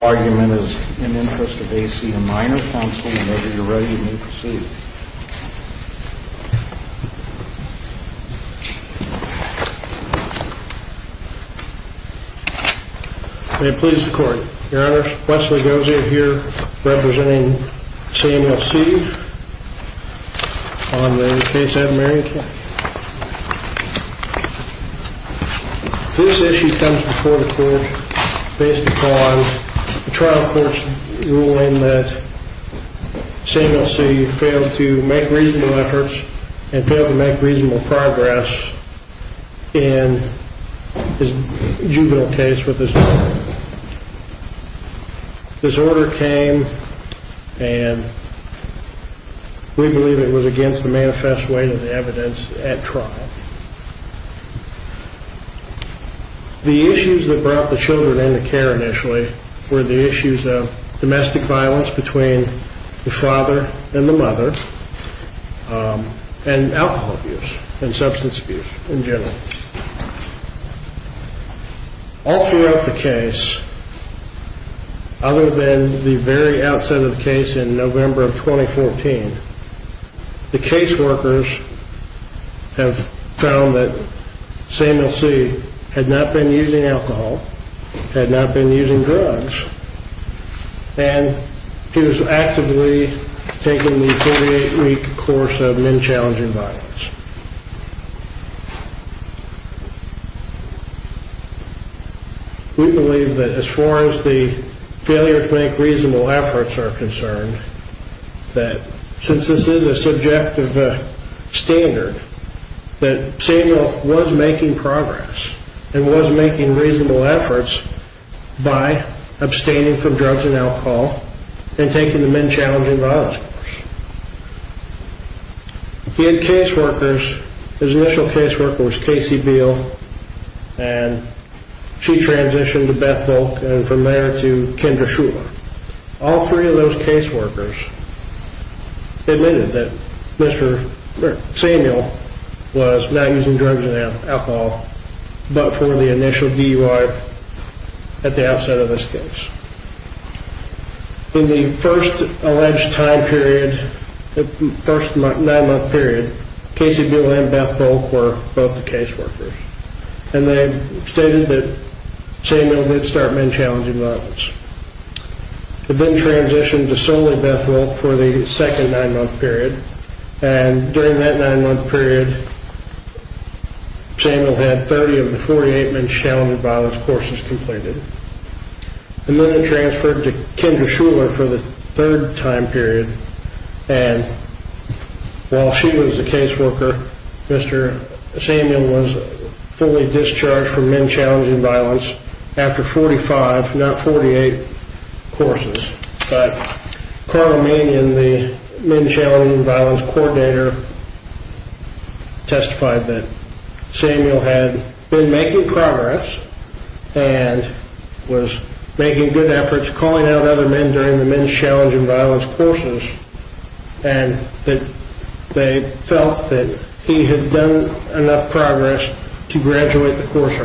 A minor counsel, whenever you're ready, you may proceed. May it please the Court. Your Honors, Wesley Gozier here, representing CMLC on the case of Marion County. This issue comes before the Court based upon the trial court's ruling that CMLC failed to make reasonable efforts and failed to make reasonable progress in his juvenile case with his daughter. This order came and we believe it was against the manifest weight of the evidence at trial. The issues that brought the children into care initially were the issues of domestic violence between the father and the mother and alcohol abuse and substance abuse in general. All throughout the case, other than the very outset of the case in November of 2014, the case workers have found that CMLC had not been using alcohol, had not been using drugs, and he was actively taking the 48-week course of men challenging violence. We believe that as far as the failure to make reasonable efforts are concerned, that since this is a subjective standard, that CMLC was making progress and was making reasonable efforts by abstaining from drugs and alcohol and taking the men challenging violence course. In case workers, his initial case worker was Casey Beale and she transitioned to Beth Volk and from there to Kendra Shuler. All three of those case workers admitted that Mr. Samuel was not using drugs and alcohol but for the initial DUI at the outset of this case. In the first alleged time period, the first nine-month period, Casey Beale and Beth Volk were both the case workers and they stated that Samuel did start men challenging violence. He then transitioned to solely Beth Volk for the second nine-month period and during that nine-month period, Samuel had 30 of the 48 men challenging violence courses completed. Then he transferred to Kendra Shuler for the third time period and while she was the case worker, Mr. Samuel was fully discharged from men challenging violence after 45, not 48, courses. Carl Mannion, the men challenging violence coordinator testified that Samuel had been making progress and was making good efforts calling out other men during the men challenging violence courses and that they felt that he had done enough progress to graduate the course.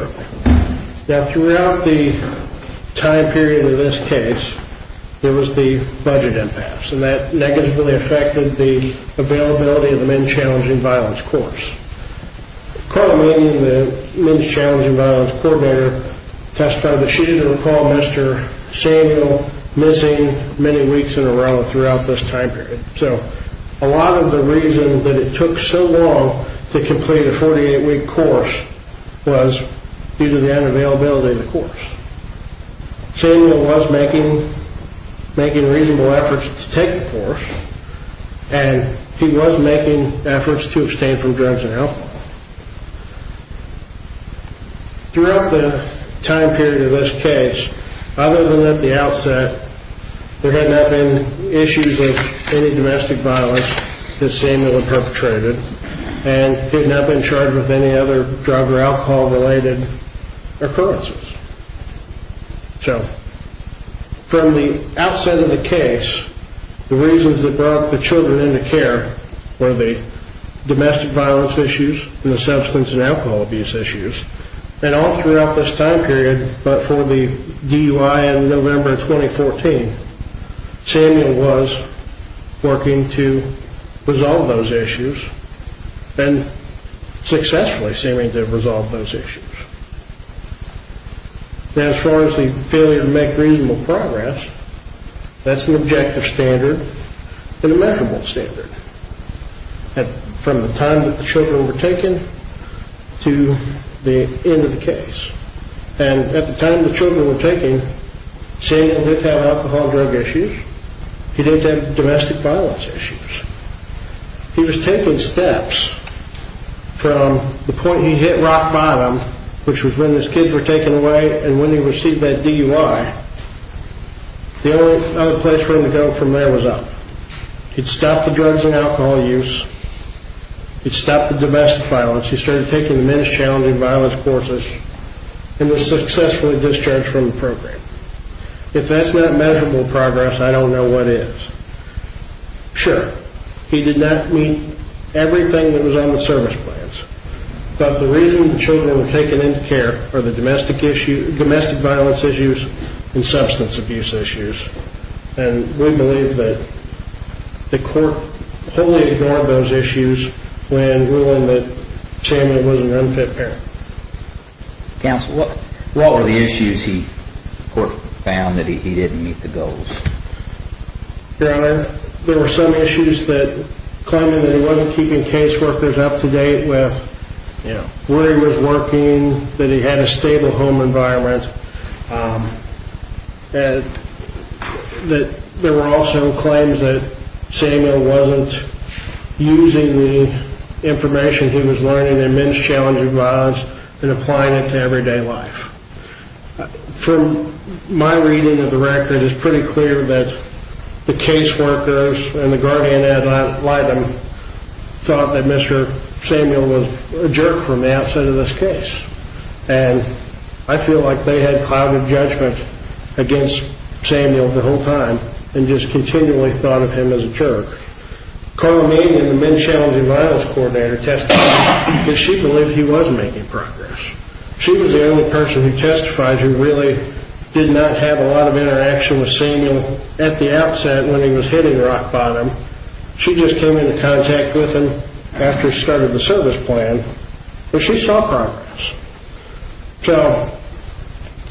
Now throughout the time period of this case, there was the budget impasse and that negatively affected the availability of the men challenging violence course. Carl Mannion, the men challenging violence coordinator testified that she didn't recall Mr. Samuel missing many weeks in a row throughout this time period. So a lot of the reason that it took so long to complete a 48-week course was due to the unavailability of the course. Samuel was making reasonable efforts to take the course and he was making efforts to abstain from drugs and alcohol. Throughout the time period of this case, other than at the outset, there had not been issues of any domestic violence that Samuel had perpetrated and he had not been charged with any other drug or alcohol related occurrences. So from the outset of the case, the reasons that brought the children into care were the domestic violence issues and the substance and alcohol abuse issues and all throughout this time period but for the DUI in November 2014, Samuel was working to resolve those issues and successfully seeming to resolve those issues. Now as far as the failure to make reasonable progress, that's an objective standard and a measurable standard from the time that the children were taken to the end of the case. And at the time the children were taken, Samuel did have alcohol and drug issues, he didn't have domestic violence issues. He was taking steps from the point he hit rock bottom, which was when his kids were taken away and when he received that DUI, the only other place for him to go from there was up. He'd stopped the drugs and alcohol use, he'd stopped the domestic violence, he started taking the men's challenging violence courses and was successfully discharged from the program. If that's not measurable progress, I don't know what is. Sure, he did not meet everything that was on the service plans, but the reason the children were taken into care were the domestic violence issues and substance abuse issues. And we believe that the court wholly ignored those issues when ruling that Samuel was an unfit parent. Counsel, what were the issues that the court found that he didn't meet the goals? Your Honor, there were some issues that claimed that he wasn't keeping case workers up to date with where he was working, that he had a stable home environment. There were also claims that Samuel wasn't using the information he was learning in men's challenging violence and applying it to everyday life. From my reading of the record, it's pretty clear that the case workers and the guardian ad litem thought that Mr. Samuel was a jerk from the outset of this case. And I feel like they had clouded judgment against Samuel the whole time and just continually thought of him as a jerk. Carla Mead, the men's challenging violence coordinator, testified that she believed he was making progress. She was the only person who testifies who really did not have a lot of interaction with Samuel at the outset when he was hitting rock bottom. She just came into contact with him after he started the service plan, and she saw progress. So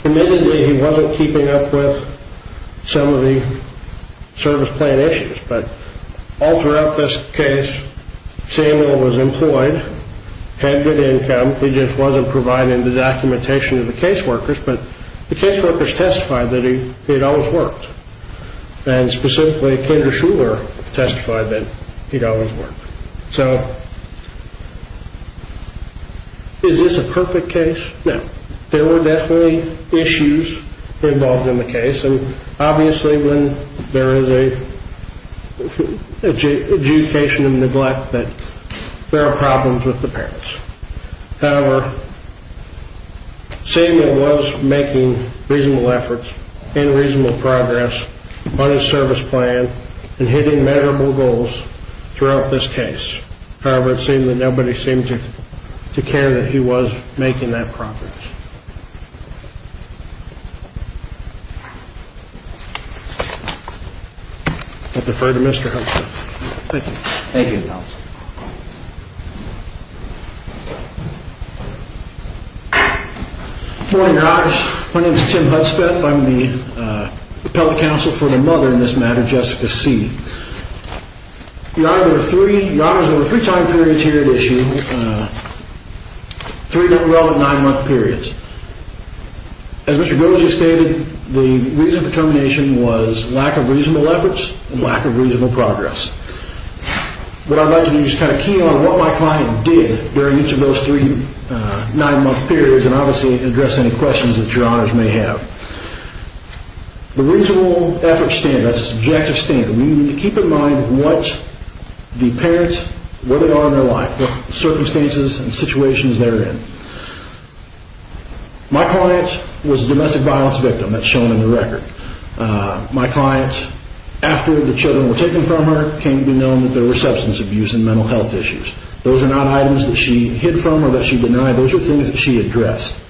admittedly, he wasn't keeping up with some of the service plan issues, but all throughout this case, Samuel was employed, had good income. He just wasn't providing the documentation to the case workers, but the case workers testified that he had always worked. And specifically, Kendra Shuler testified that he'd always worked. So is this a perfect case? No. There were definitely issues involved in the case, and obviously when there is an adjudication of neglect, there are problems with the parents. However, Samuel was making reasonable efforts and reasonable progress on his service plan and hitting measurable goals throughout this case. However, it seemed that nobody seemed to care that he was making that progress. I defer to Mr. Hudspeth. Thank you. Thank you, counsel. Good morning, guys. My name is Tim Hudspeth. I'm the appellate counsel for the mother in this matter, Jessica C. Your honors, there were three time periods here at issue, three different relevant nine-month periods. As Mr. Goza stated, the reason for termination was lack of reasonable efforts and lack of reasonable progress. But I'd like to just kind of key on what my client did during each of those three nine-month periods and obviously address any questions that your honors may have. The reasonable efforts standard, that's a subjective standard. We need to keep in mind what the parents, where they are in their life, what circumstances and situations they're in. My client was a domestic violence victim. That's shown in the record. My client, after the children were taken from her, came to be known that there were substance abuse and mental health issues. Those are not items that she hid from or that she denied. Those are things that she addressed.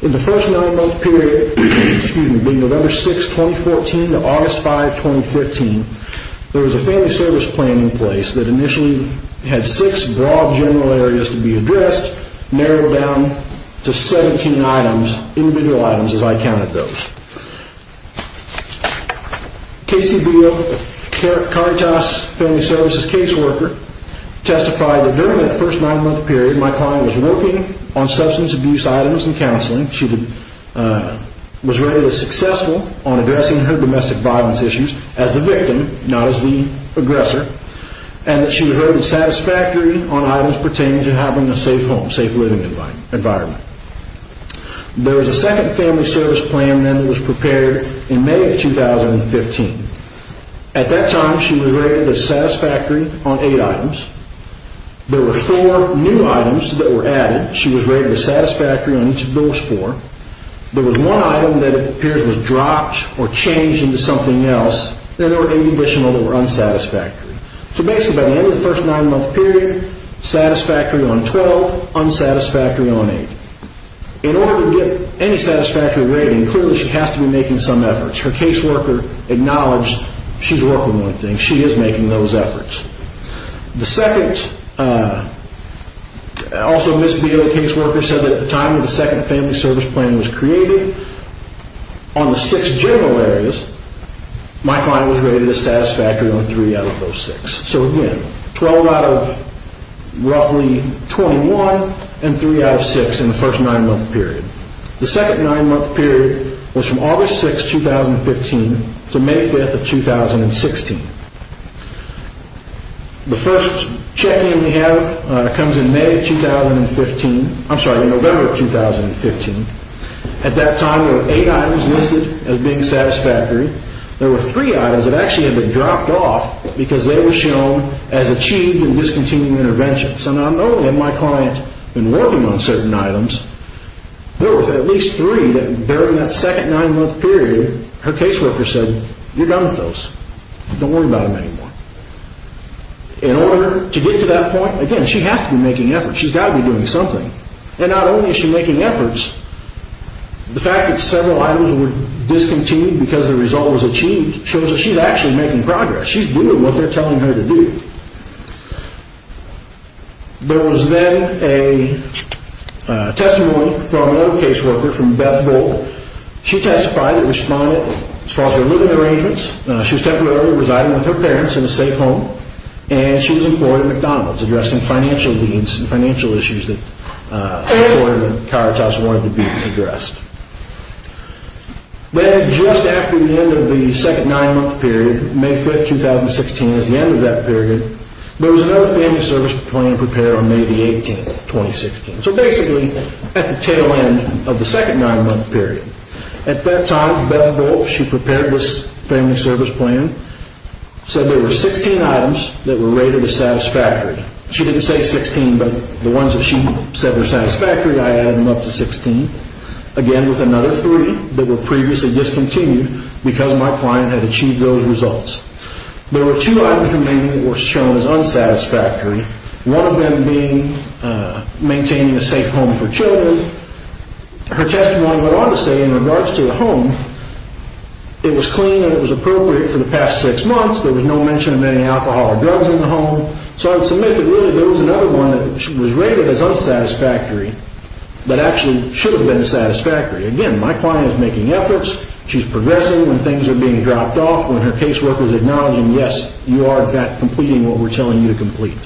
In the first nine-month period, excuse me, being November 6, 2014 to August 5, 2015, there was a family service plan in place that initially had six broad general areas to be addressed, narrowed down to 17 items, individual items as I counted those. Casey Beale, Caritas Family Services caseworker, testified that during that first nine-month period, my client was working on substance abuse items and counseling. She was rated as successful on addressing her domestic violence issues as the victim, not as the aggressor, and that she was rated satisfactory on items pertaining to having a safe home, safe living environment. There was a second family service plan then that was prepared in May of 2015. At that time, she was rated as satisfactory on eight items. There were four new items that were added. She was rated as satisfactory on each of those four. There was one item that it appears was dropped or changed into something else, and there were eight additional that were unsatisfactory. So basically, by the end of the first nine-month period, satisfactory on 12, unsatisfactory on eight. In order to get any satisfactory rating, clearly she has to be making some efforts. Her caseworker acknowledged she's working on one thing. She is making those efforts. The second, also Ms. Beale, caseworker, said that at the time that the second family service plan was created, on the six general areas, my client was rated as satisfactory on three out of those six. So again, 12 out of roughly 21, and three out of six in the first nine-month period. The second nine-month period was from August 6, 2015 to May 5, 2016. The first check-in we have comes in May of 2015. I'm sorry, in November of 2015. At that time, there were eight items listed as being satisfactory. There were three items that actually had been dropped off because they were shown as achieved in discontinued intervention. So not only had my client been working on certain items, there were at least three that during that second nine-month period, her caseworker said, you're done with those. Don't worry about them anymore. In order to get to that point, again, she has to be making efforts. She's got to be doing something. And not only is she making efforts, the fact that several items were discontinued because the result was achieved shows that she's actually making progress. She's doing what they're telling her to do. There was then a testimony from another caseworker, from Beth Volk. She testified and responded as far as her living arrangements. She was temporarily residing with her parents in a safe home, and she was employed at McDonald's addressing financial needs and financial issues that the employer at the Carhartt House wanted to be addressed. Then, just after the end of the second nine-month period, May 5, 2016 is the end of that period, there was another family service plan prepared on May 18, 2016. So basically, at the tail end of the second nine-month period. At that time, Beth Volk, she prepared this family service plan, said there were 16 items that were rated as satisfactory. She didn't say 16, but the ones that she said were satisfactory, I added them up to 16, again with another three that were previously discontinued because my client had achieved those results. There were two items remaining that were shown as unsatisfactory, one of them being maintaining a safe home for children. Her testimony went on to say, in regards to the home, it was clean and it was appropriate for the past six months, there was no mention of any alcohol or drugs in the home. So I would submit that really there was another one that was rated as unsatisfactory, but actually should have been satisfactory. Again, my client is making efforts, she's progressing when things are being dropped off, when her caseworker is acknowledging, yes, you are in fact completing what we're telling you to complete.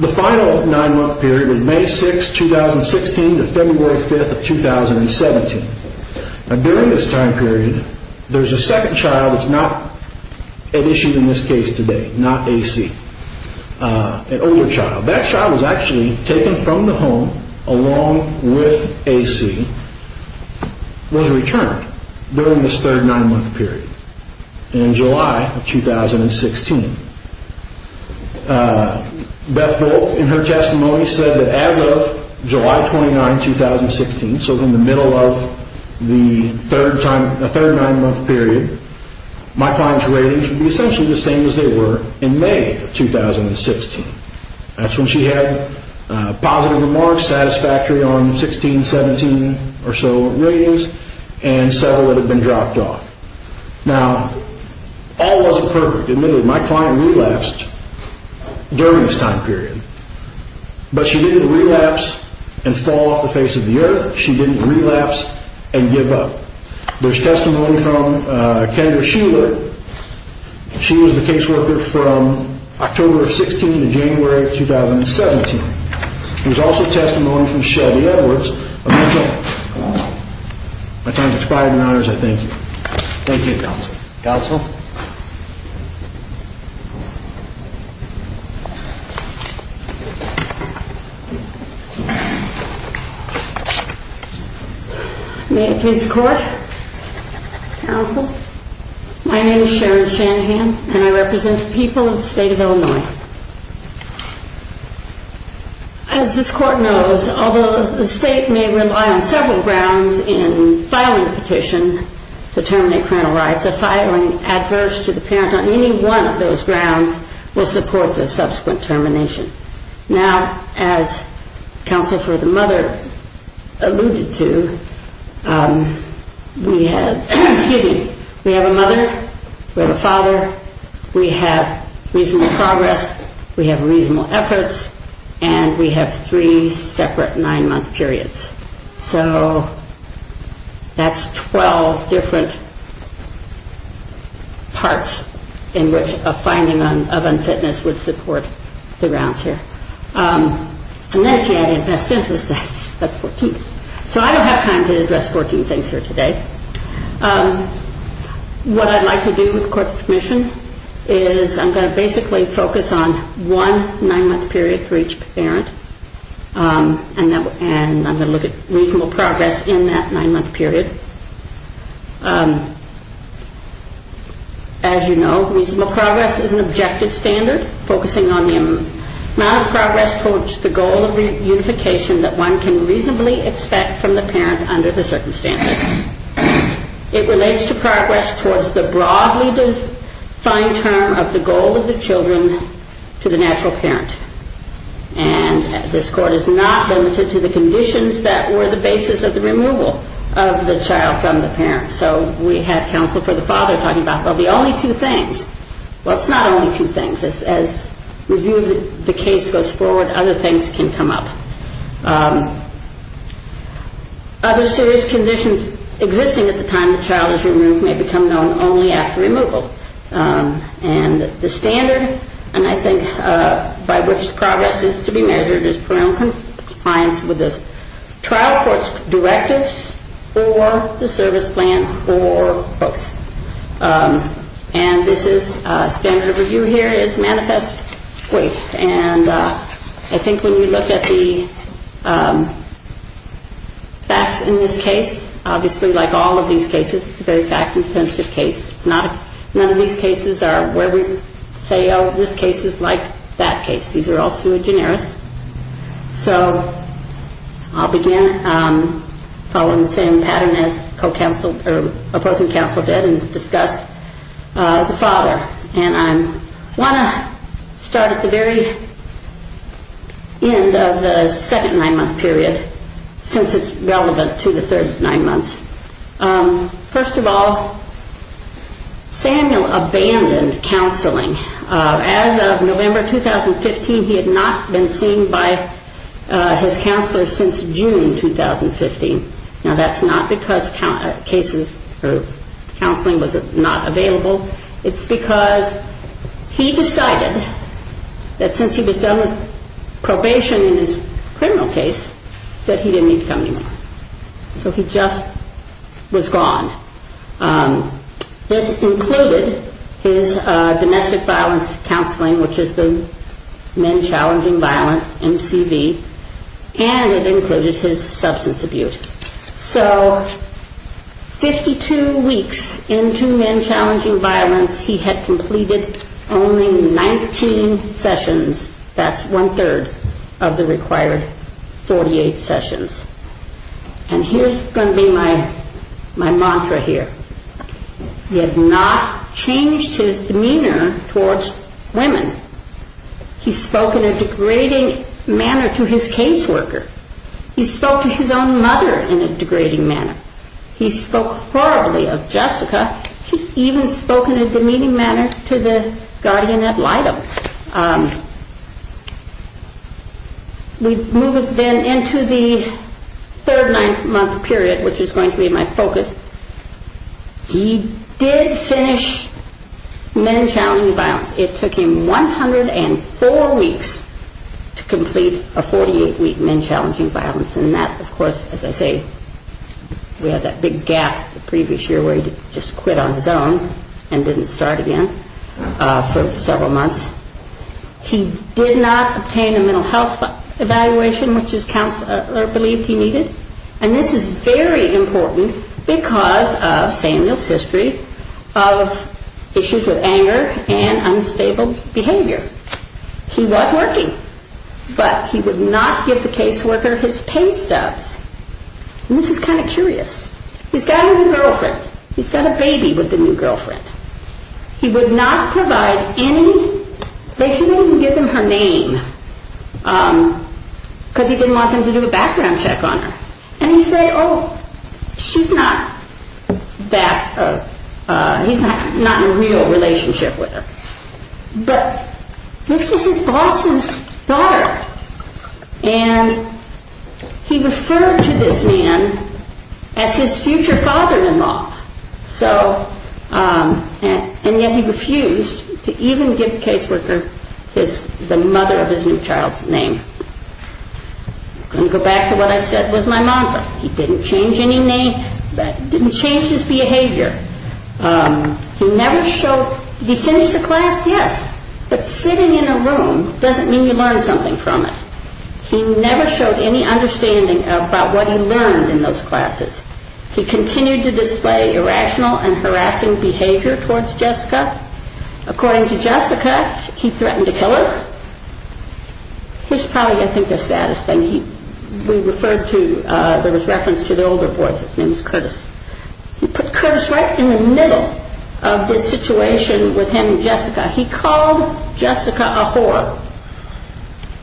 The final nine-month period was May 6, 2016 to February 5, 2017. During this time period, there's a second child that's not at issue in this case today, not AC. An older child. That child was actually taken from the home along with AC, was returned during this third nine-month period. In July of 2016. Beth Voelk, in her testimony, said that as of July 29, 2016, so in the middle of the third nine-month period, my client's ratings would be essentially the same as they were in May of 2016. That's when she had positive remarks, satisfactory on 16, 17 or so ratings, and several that had been dropped off. Now, all wasn't perfect. Admittedly, my client relapsed during this time period. But she didn't relapse and fall off the face of the earth. She didn't relapse and give up. There's testimony from Kendra Shuler. She was the caseworker from October of 16 to January of 2017. There's also testimony from Chevy Edwards. My time has expired. I thank you. Thank you, Counsel. Counsel? May I please record? Counsel, my name is Sharon Shanahan, and I represent the people of the state of Illinois. As this court knows, although the state may rely on several grounds in filing a petition to terminate parental rights, a filing adverse to the parent on any one of those grounds will support the subsequent termination. Now, as Counsel for the Mother alluded to, we have a mother, we have a father, we have reasonable progress, we have reasonable efforts, and we have three separate nine-month periods. So that's 12 different parts in which a finding of unfitness would support the grounds here. And then she added best interests. That's 14. So I don't have time to address 14 things here today. What I'd like to do with court's permission is I'm going to basically focus on one nine-month period for each parent, and I'm going to look at reasonable progress in that nine-month period. As you know, reasonable progress is an objective standard focusing on the amount of progress towards the goal of reunification that one can reasonably expect from the parent under the circumstances. It relates to progress towards the broadly defined term of the goal of the children to the natural parent. And this court is not limited to the conditions that were the basis of the removal of the child from the parent. So we have Counsel for the Father talking about, well, the only two things. Well, it's not only two things. As we view the case goes forward, other things can come up. Other serious conditions existing at the time the child is removed may become known only after removal. And the standard, and I think by which progress is to be measured, is parental compliance with the trial court's directives or the service plan or both. And this is standard review here is manifest weight. And I think when you look at the facts in this case, obviously like all of these cases it's a very fact-intensive case. None of these cases are where we say, oh, this case is like that case. These are all sui generis. So I'll begin following the same pattern as opposing counsel did and discuss the father. And I want to start at the very end of the second nine-month period since it's relevant to the third nine months. First of all, Samuel abandoned counseling. As of November 2015, he had not been seen by his counselor since June 2015. Now, that's not because counseling was not available. It's because he decided that since he was done with probation in his criminal case that he didn't need to come anymore. So he just was gone. This included his domestic violence counseling, which is the Men Challenging Violence, MCV, and it included his substance abuse. So 52 weeks into Men Challenging Violence, he had completed only 19 sessions. That's one-third of the required 48 sessions. And here's going to be my mantra here. He had not changed his demeanor towards women. He spoke in a degrading manner to his caseworker. He spoke to his own mother in a degrading manner. He spoke horribly of Jessica. He even spoke in a demeaning manner to the guardian ad litem. We move then into the third nine-month period, which is going to be my focus. He did finish Men Challenging Violence. It took him 104 weeks to complete a 48-week Men Challenging Violence. And that, of course, as I say, we had that big gap the previous year where he just quit on his own and didn't start again for several months. He did not obtain a mental health evaluation, which his counselor believed he needed. And this is very important because of Samuel's history of issues with anger and unstable behavior. He was working, but he would not give the caseworker his pay stubs. And this is kind of curious. He's got a new girlfriend. He's got a baby with the new girlfriend. He would not provide any, they couldn't even give him her name because he didn't want them to do a background check on her. And he said, oh, she's not that, he's not in a real relationship with her. But this was his boss's daughter. And he referred to this man as his future father-in-law. And yet he refused to even give the caseworker the mother of his new child's name. I'm going to go back to what I said was my mantra. He didn't change his behavior. He never showed, did he finish the class? Yes. But sitting in a room doesn't mean you learn something from it. He never showed any understanding about what he learned in those classes. He continued to display irrational and harassing behavior towards Jessica. According to Jessica, he threatened to kill her. Here's probably, I think, the saddest thing. We referred to, there was reference to the older boy, his name was Curtis. He put Curtis right in the middle of this situation with him and Jessica. He called Jessica a whore.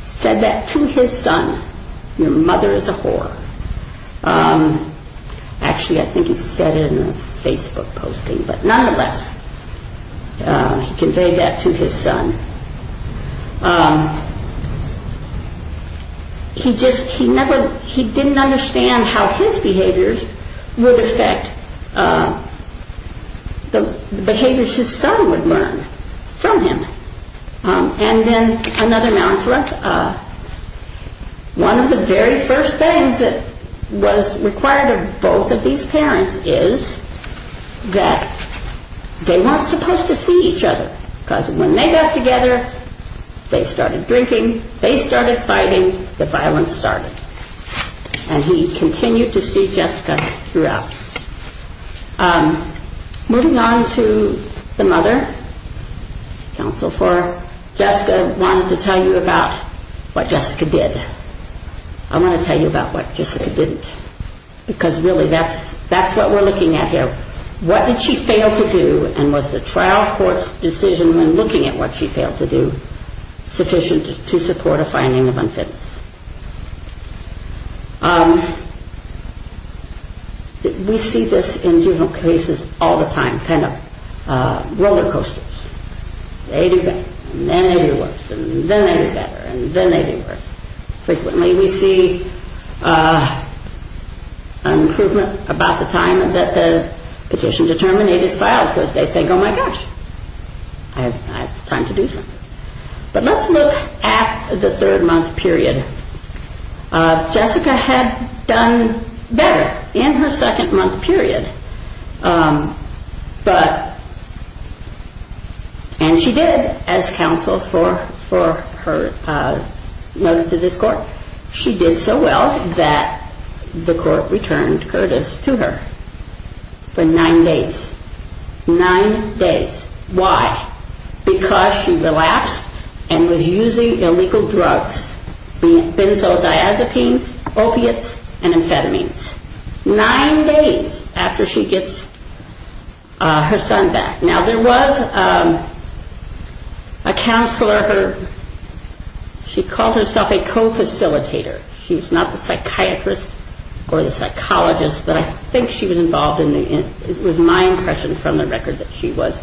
Said that to his son. Your mother is a whore. Actually, I think he said it in a Facebook posting. But nonetheless, he conveyed that to his son. He just, he never, he didn't understand how his behaviors would affect the behaviors his son would learn from him. And then another mantra. One of the very first things that was required of both of these parents is that they weren't supposed to see each other. Because when they got together, they started drinking, they started fighting, the violence started. And he continued to see Jessica throughout. Moving on to the mother. Counsel for Jessica wanted to tell you about what Jessica did. I want to tell you about what Jessica didn't. Because really, that's what we're looking at here. What did she fail to do and was the trial court's decision when looking at what she failed to do sufficient to support a finding of unfitness? We see this in juvenile cases all the time, kind of roller coasters. They do better, and then they do worse, and then they do better, and then they do worse. Frequently we see an improvement about the time that the petition to terminate is filed. Because they think, oh my gosh, it's time to do something. But let's look at the third month period. Jessica had done better in her second month period, and she did as counsel for her notice to this court. She did so well that the court returned Curtis to her for nine days. Nine days. Why? Because she relapsed and was using illegal drugs, benzodiazepines, opiates, and amphetamines. Nine days after she gets her son back. Now, there was a counselor, she called herself a co-facilitator. She was not the psychiatrist or the psychologist, but I think she was involved in the, it was my impression from the record that she was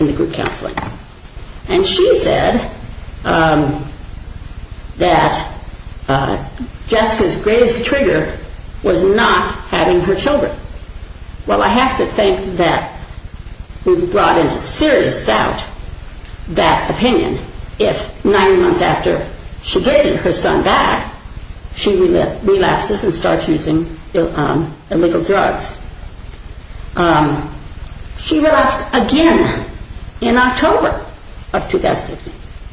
in the group counseling. And she said that Jessica's greatest trigger was not having her children. Well, I have to think that we've brought into serious doubt that opinion. If nine months after she gets her son back, she relapses and starts using illegal drugs. She relapsed again in October of 2016.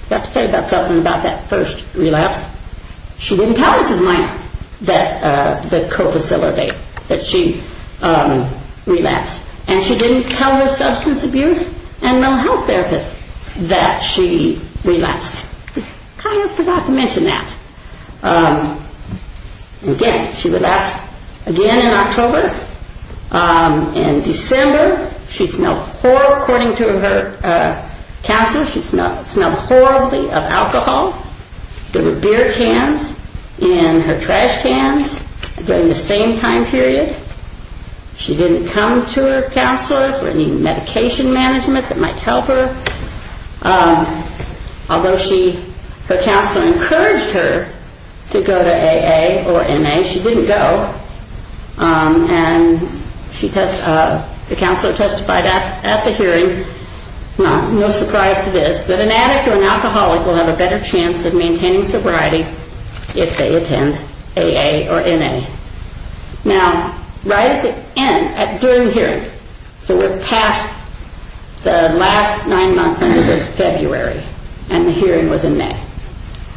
I have to tell you something about that first relapse. She didn't tell Mrs. Minor, the co-facilitator, that she relapsed. And she didn't tell her substance abuse and mental health therapist that she relapsed. I kind of forgot to mention that. Again, she relapsed again in October. In December, according to her counselor, she smelled horribly of alcohol. There were beer cans in her trash cans during the same time period. She didn't come to her counselor for any medication management that might help her. Although her counselor encouraged her to go to AA or NA, she didn't go. And the counselor testified at the hearing, no surprise to this, that an addict or an alcoholic will have a better chance of maintaining sobriety if they attend AA or NA. Now, right at the end, during the hearing, so we're past the last nine months, February, and the hearing was in May.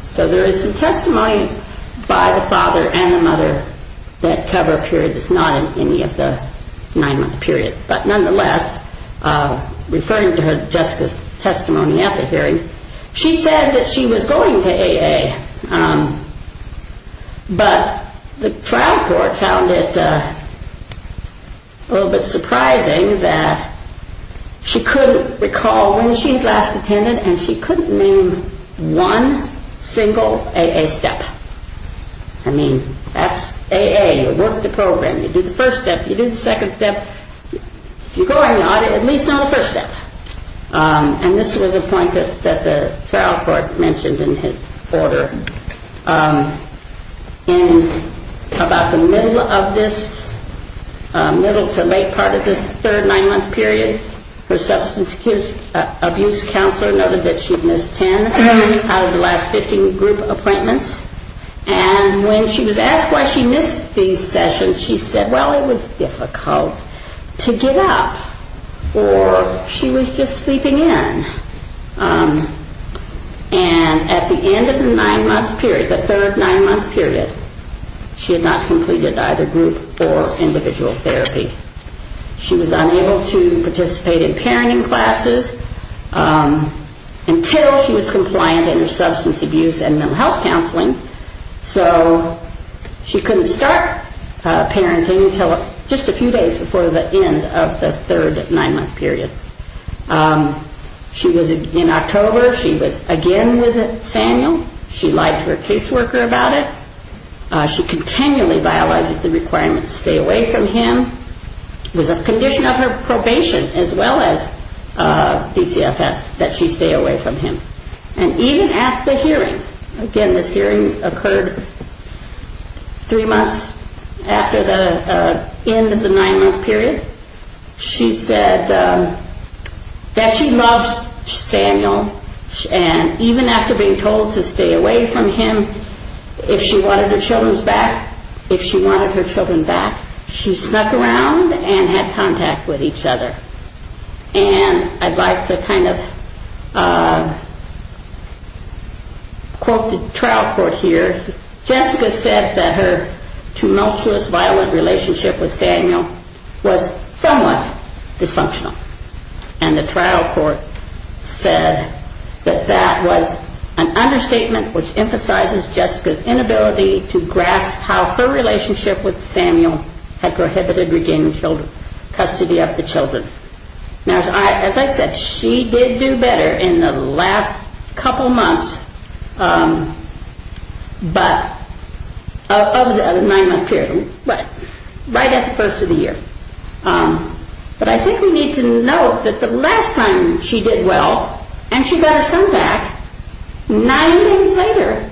So there is some testimony by the father and the mother that cover a period that's not in any of the nine-month period. But nonetheless, referring to Jessica's testimony at the hearing, she said that she was going to AA. But the trial court found it a little bit surprising that she couldn't recall when she last attended and she couldn't name one single AA step. I mean, that's AA. You work the program. You do the first step. You do the second step. If you're going, at least know the first step. And this was a point that the trial court mentioned in his order. In about the middle of this, middle to late part of this third nine-month period, her substance abuse counselor noted that she'd missed 10 out of the last 15 group appointments. And when she was asked why she missed these sessions, she said, well, it was difficult to get up. Or she was just sleeping in. And at the end of the nine-month period, the third nine-month period, she had not completed either group or individual therapy. She was unable to participate in parenting classes until she was compliant in her substance abuse and mental health counseling. So she couldn't start parenting until just a few days before the end of the third nine-month period. In October, she was again with Samuel. She lied to her caseworker about it. She continually violated the requirements to stay away from him. It was a condition of her probation as well as DCFS that she stay away from him. And even at the hearing, again, this hearing occurred three months after the end of the nine-month period, she said that she loves Samuel. And even after being told to stay away from him, if she wanted her children back, she snuck around and had contact with each other. And I'd like to kind of quote the trial court here. Jessica said that her tumultuous violent relationship with Samuel was somewhat dysfunctional. And the trial court said that that was an understatement which emphasizes Jessica's inability to grasp how her relationship with Samuel had prohibited regaining custody of the children. Now, as I said, she did do better in the last couple months of the nine-month period, right at the first of the year. But I think we need to note that the last time she did well and she got her son back, nine days later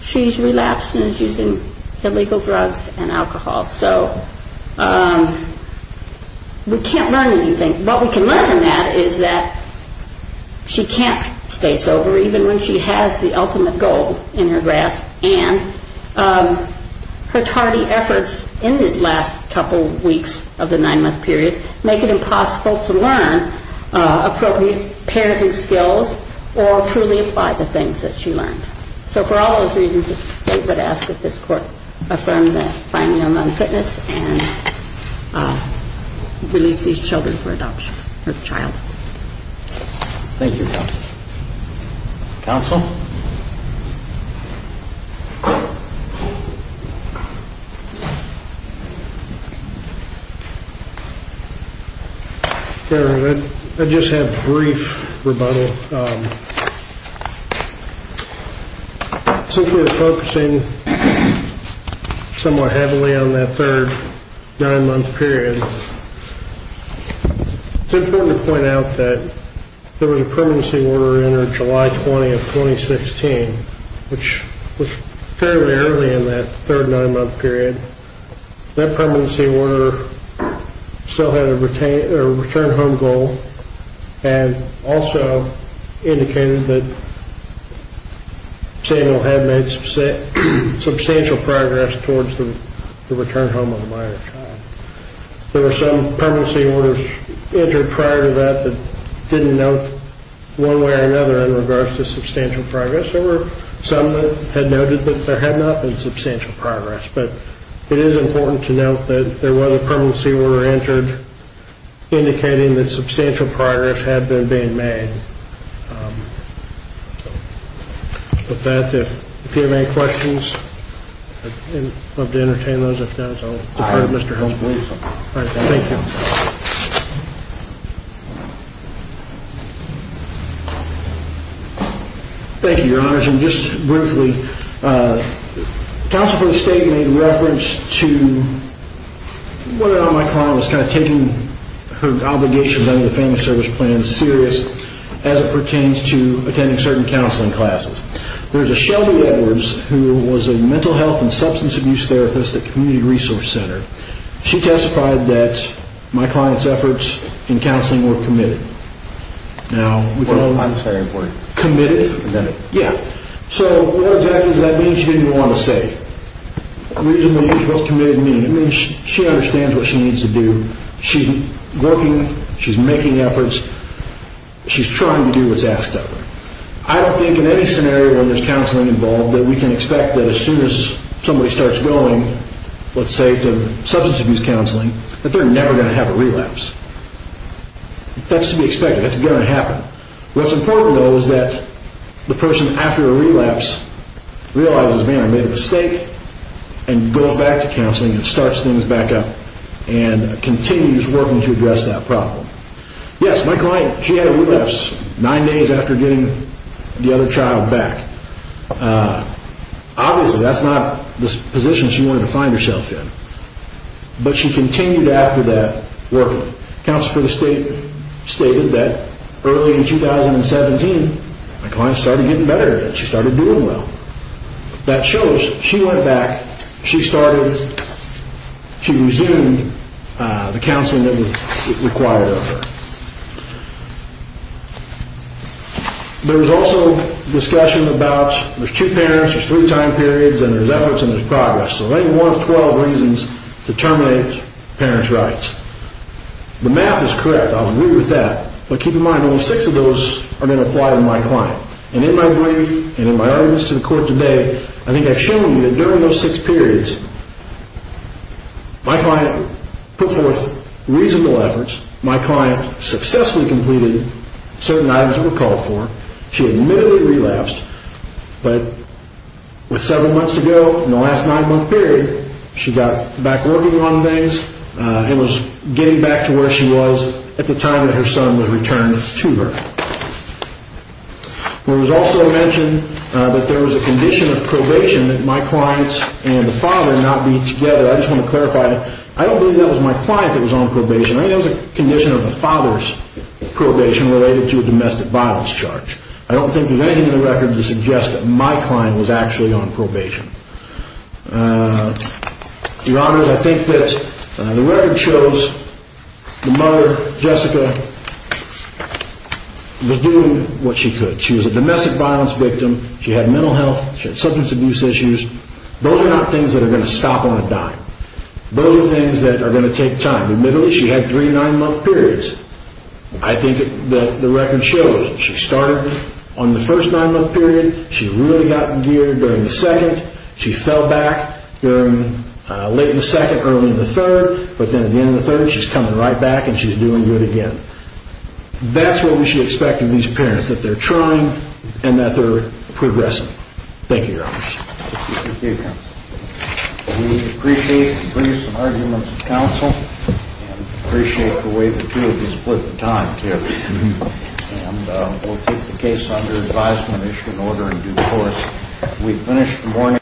she's relapsed and is using illegal drugs and alcohol. So we can't learn anything. What we can learn from that is that she can't stay sober, even when she has the ultimate goal in her grasp. And her tardy efforts in these last couple weeks of the nine-month period make it impossible to learn appropriate parenting skills or truly apply the things that she learned. So for all those reasons, the state would ask that this court affirm the finding of non-fitness and release these children for adoption, her child. Thank you, counsel. Counsel? I just have a brief rebuttal. Since we were focusing somewhat heavily on that third nine-month period, it's important to point out that there was a permanency order entered July 20 of 2016, which was fairly early in that third nine-month period. That permanency order still had a return home goal and also indicated that Samuel had made substantial progress towards the return home of a minor child. There were some permanency orders entered prior to that that didn't note one way or another in regards to substantial progress. There were some that had noted that there had not been substantial progress. But it is important to note that there was a permanency order entered indicating that substantial progress had been being made. With that, if you have any questions, I'd love to entertain those. If not, I'll defer to Mr. Holmes, please. Thank you. Thank you, Your Honors. And just briefly, counsel for the state made reference to whether or not my client was kind of taking her obligations under the Family Service Plan serious. As it pertains to attending certain counseling classes. There's a Shelby Edwards who was a mental health and substance abuse therapist at Community Resource Center. She testified that my client's efforts in counseling were committed. Committed? Yeah. So what exactly does that mean? She didn't want to say. What does committed mean? It means she understands what she needs to do. She's working. She's making efforts. She's trying to do what's asked of her. I don't think in any scenario when there's counseling involved that we can expect that as soon as somebody starts going, let's say, to substance abuse counseling, that they're never going to have a relapse. That's to be expected. That's going to happen. What's important, though, is that the person after a relapse realizes, man, I made a mistake, and goes back to counseling and starts things back up and continues working to address that problem. Yes, my client, she had a relapse nine days after getting the other child back. Obviously, that's not the position she wanted to find herself in. But she continued after that working. Counsel for the State stated that early in 2017, my client started getting better and she started doing well. That shows she went back. She resumed the counseling that was required of her. There was also discussion about there's two parents, there's three time periods, and there's efforts and there's progress. So there's only one of 12 reasons to terminate parents' rights. The math is correct. I'll agree with that. But keep in mind, only six of those are going to apply to my client. And in my brief and in my arguments to the court today, I think I've shown you that during those six periods, my client put forth reasonable efforts. My client successfully completed certain items that were called for. She admittedly relapsed. But with several months to go in the last nine-month period, she got back working on things and was getting back to where she was at the time that her son was returned to her. It was also mentioned that there was a condition of probation that my clients and the father not be together. I just want to clarify that I don't believe that was my client that was on probation. I think that was a condition of the father's probation related to a domestic violence charge. I don't think there's anything in the record to suggest that my client was actually on probation. Your Honor, I think that the record shows the mother, Jessica, was doing what she could. She was a domestic violence victim. She had mental health. She had substance abuse issues. Those are not things that are going to stop on a dime. Those are things that are going to take time. Admittedly, she had three nine-month periods. I think that the record shows she started on the first nine-month period. She really got in gear during the second. She fell back late in the second, early in the third. But then at the end of the third, she's coming right back, and she's doing good again. That's what we should expect of these parents, that they're trying and that they're progressing. Thank you, Your Honor. Thank you, Counsel. We appreciate the briefs and arguments of counsel. We appreciate the way the two of you split the time, too. And we'll take the case under advisement, issue an order in due course. We've finished the morning.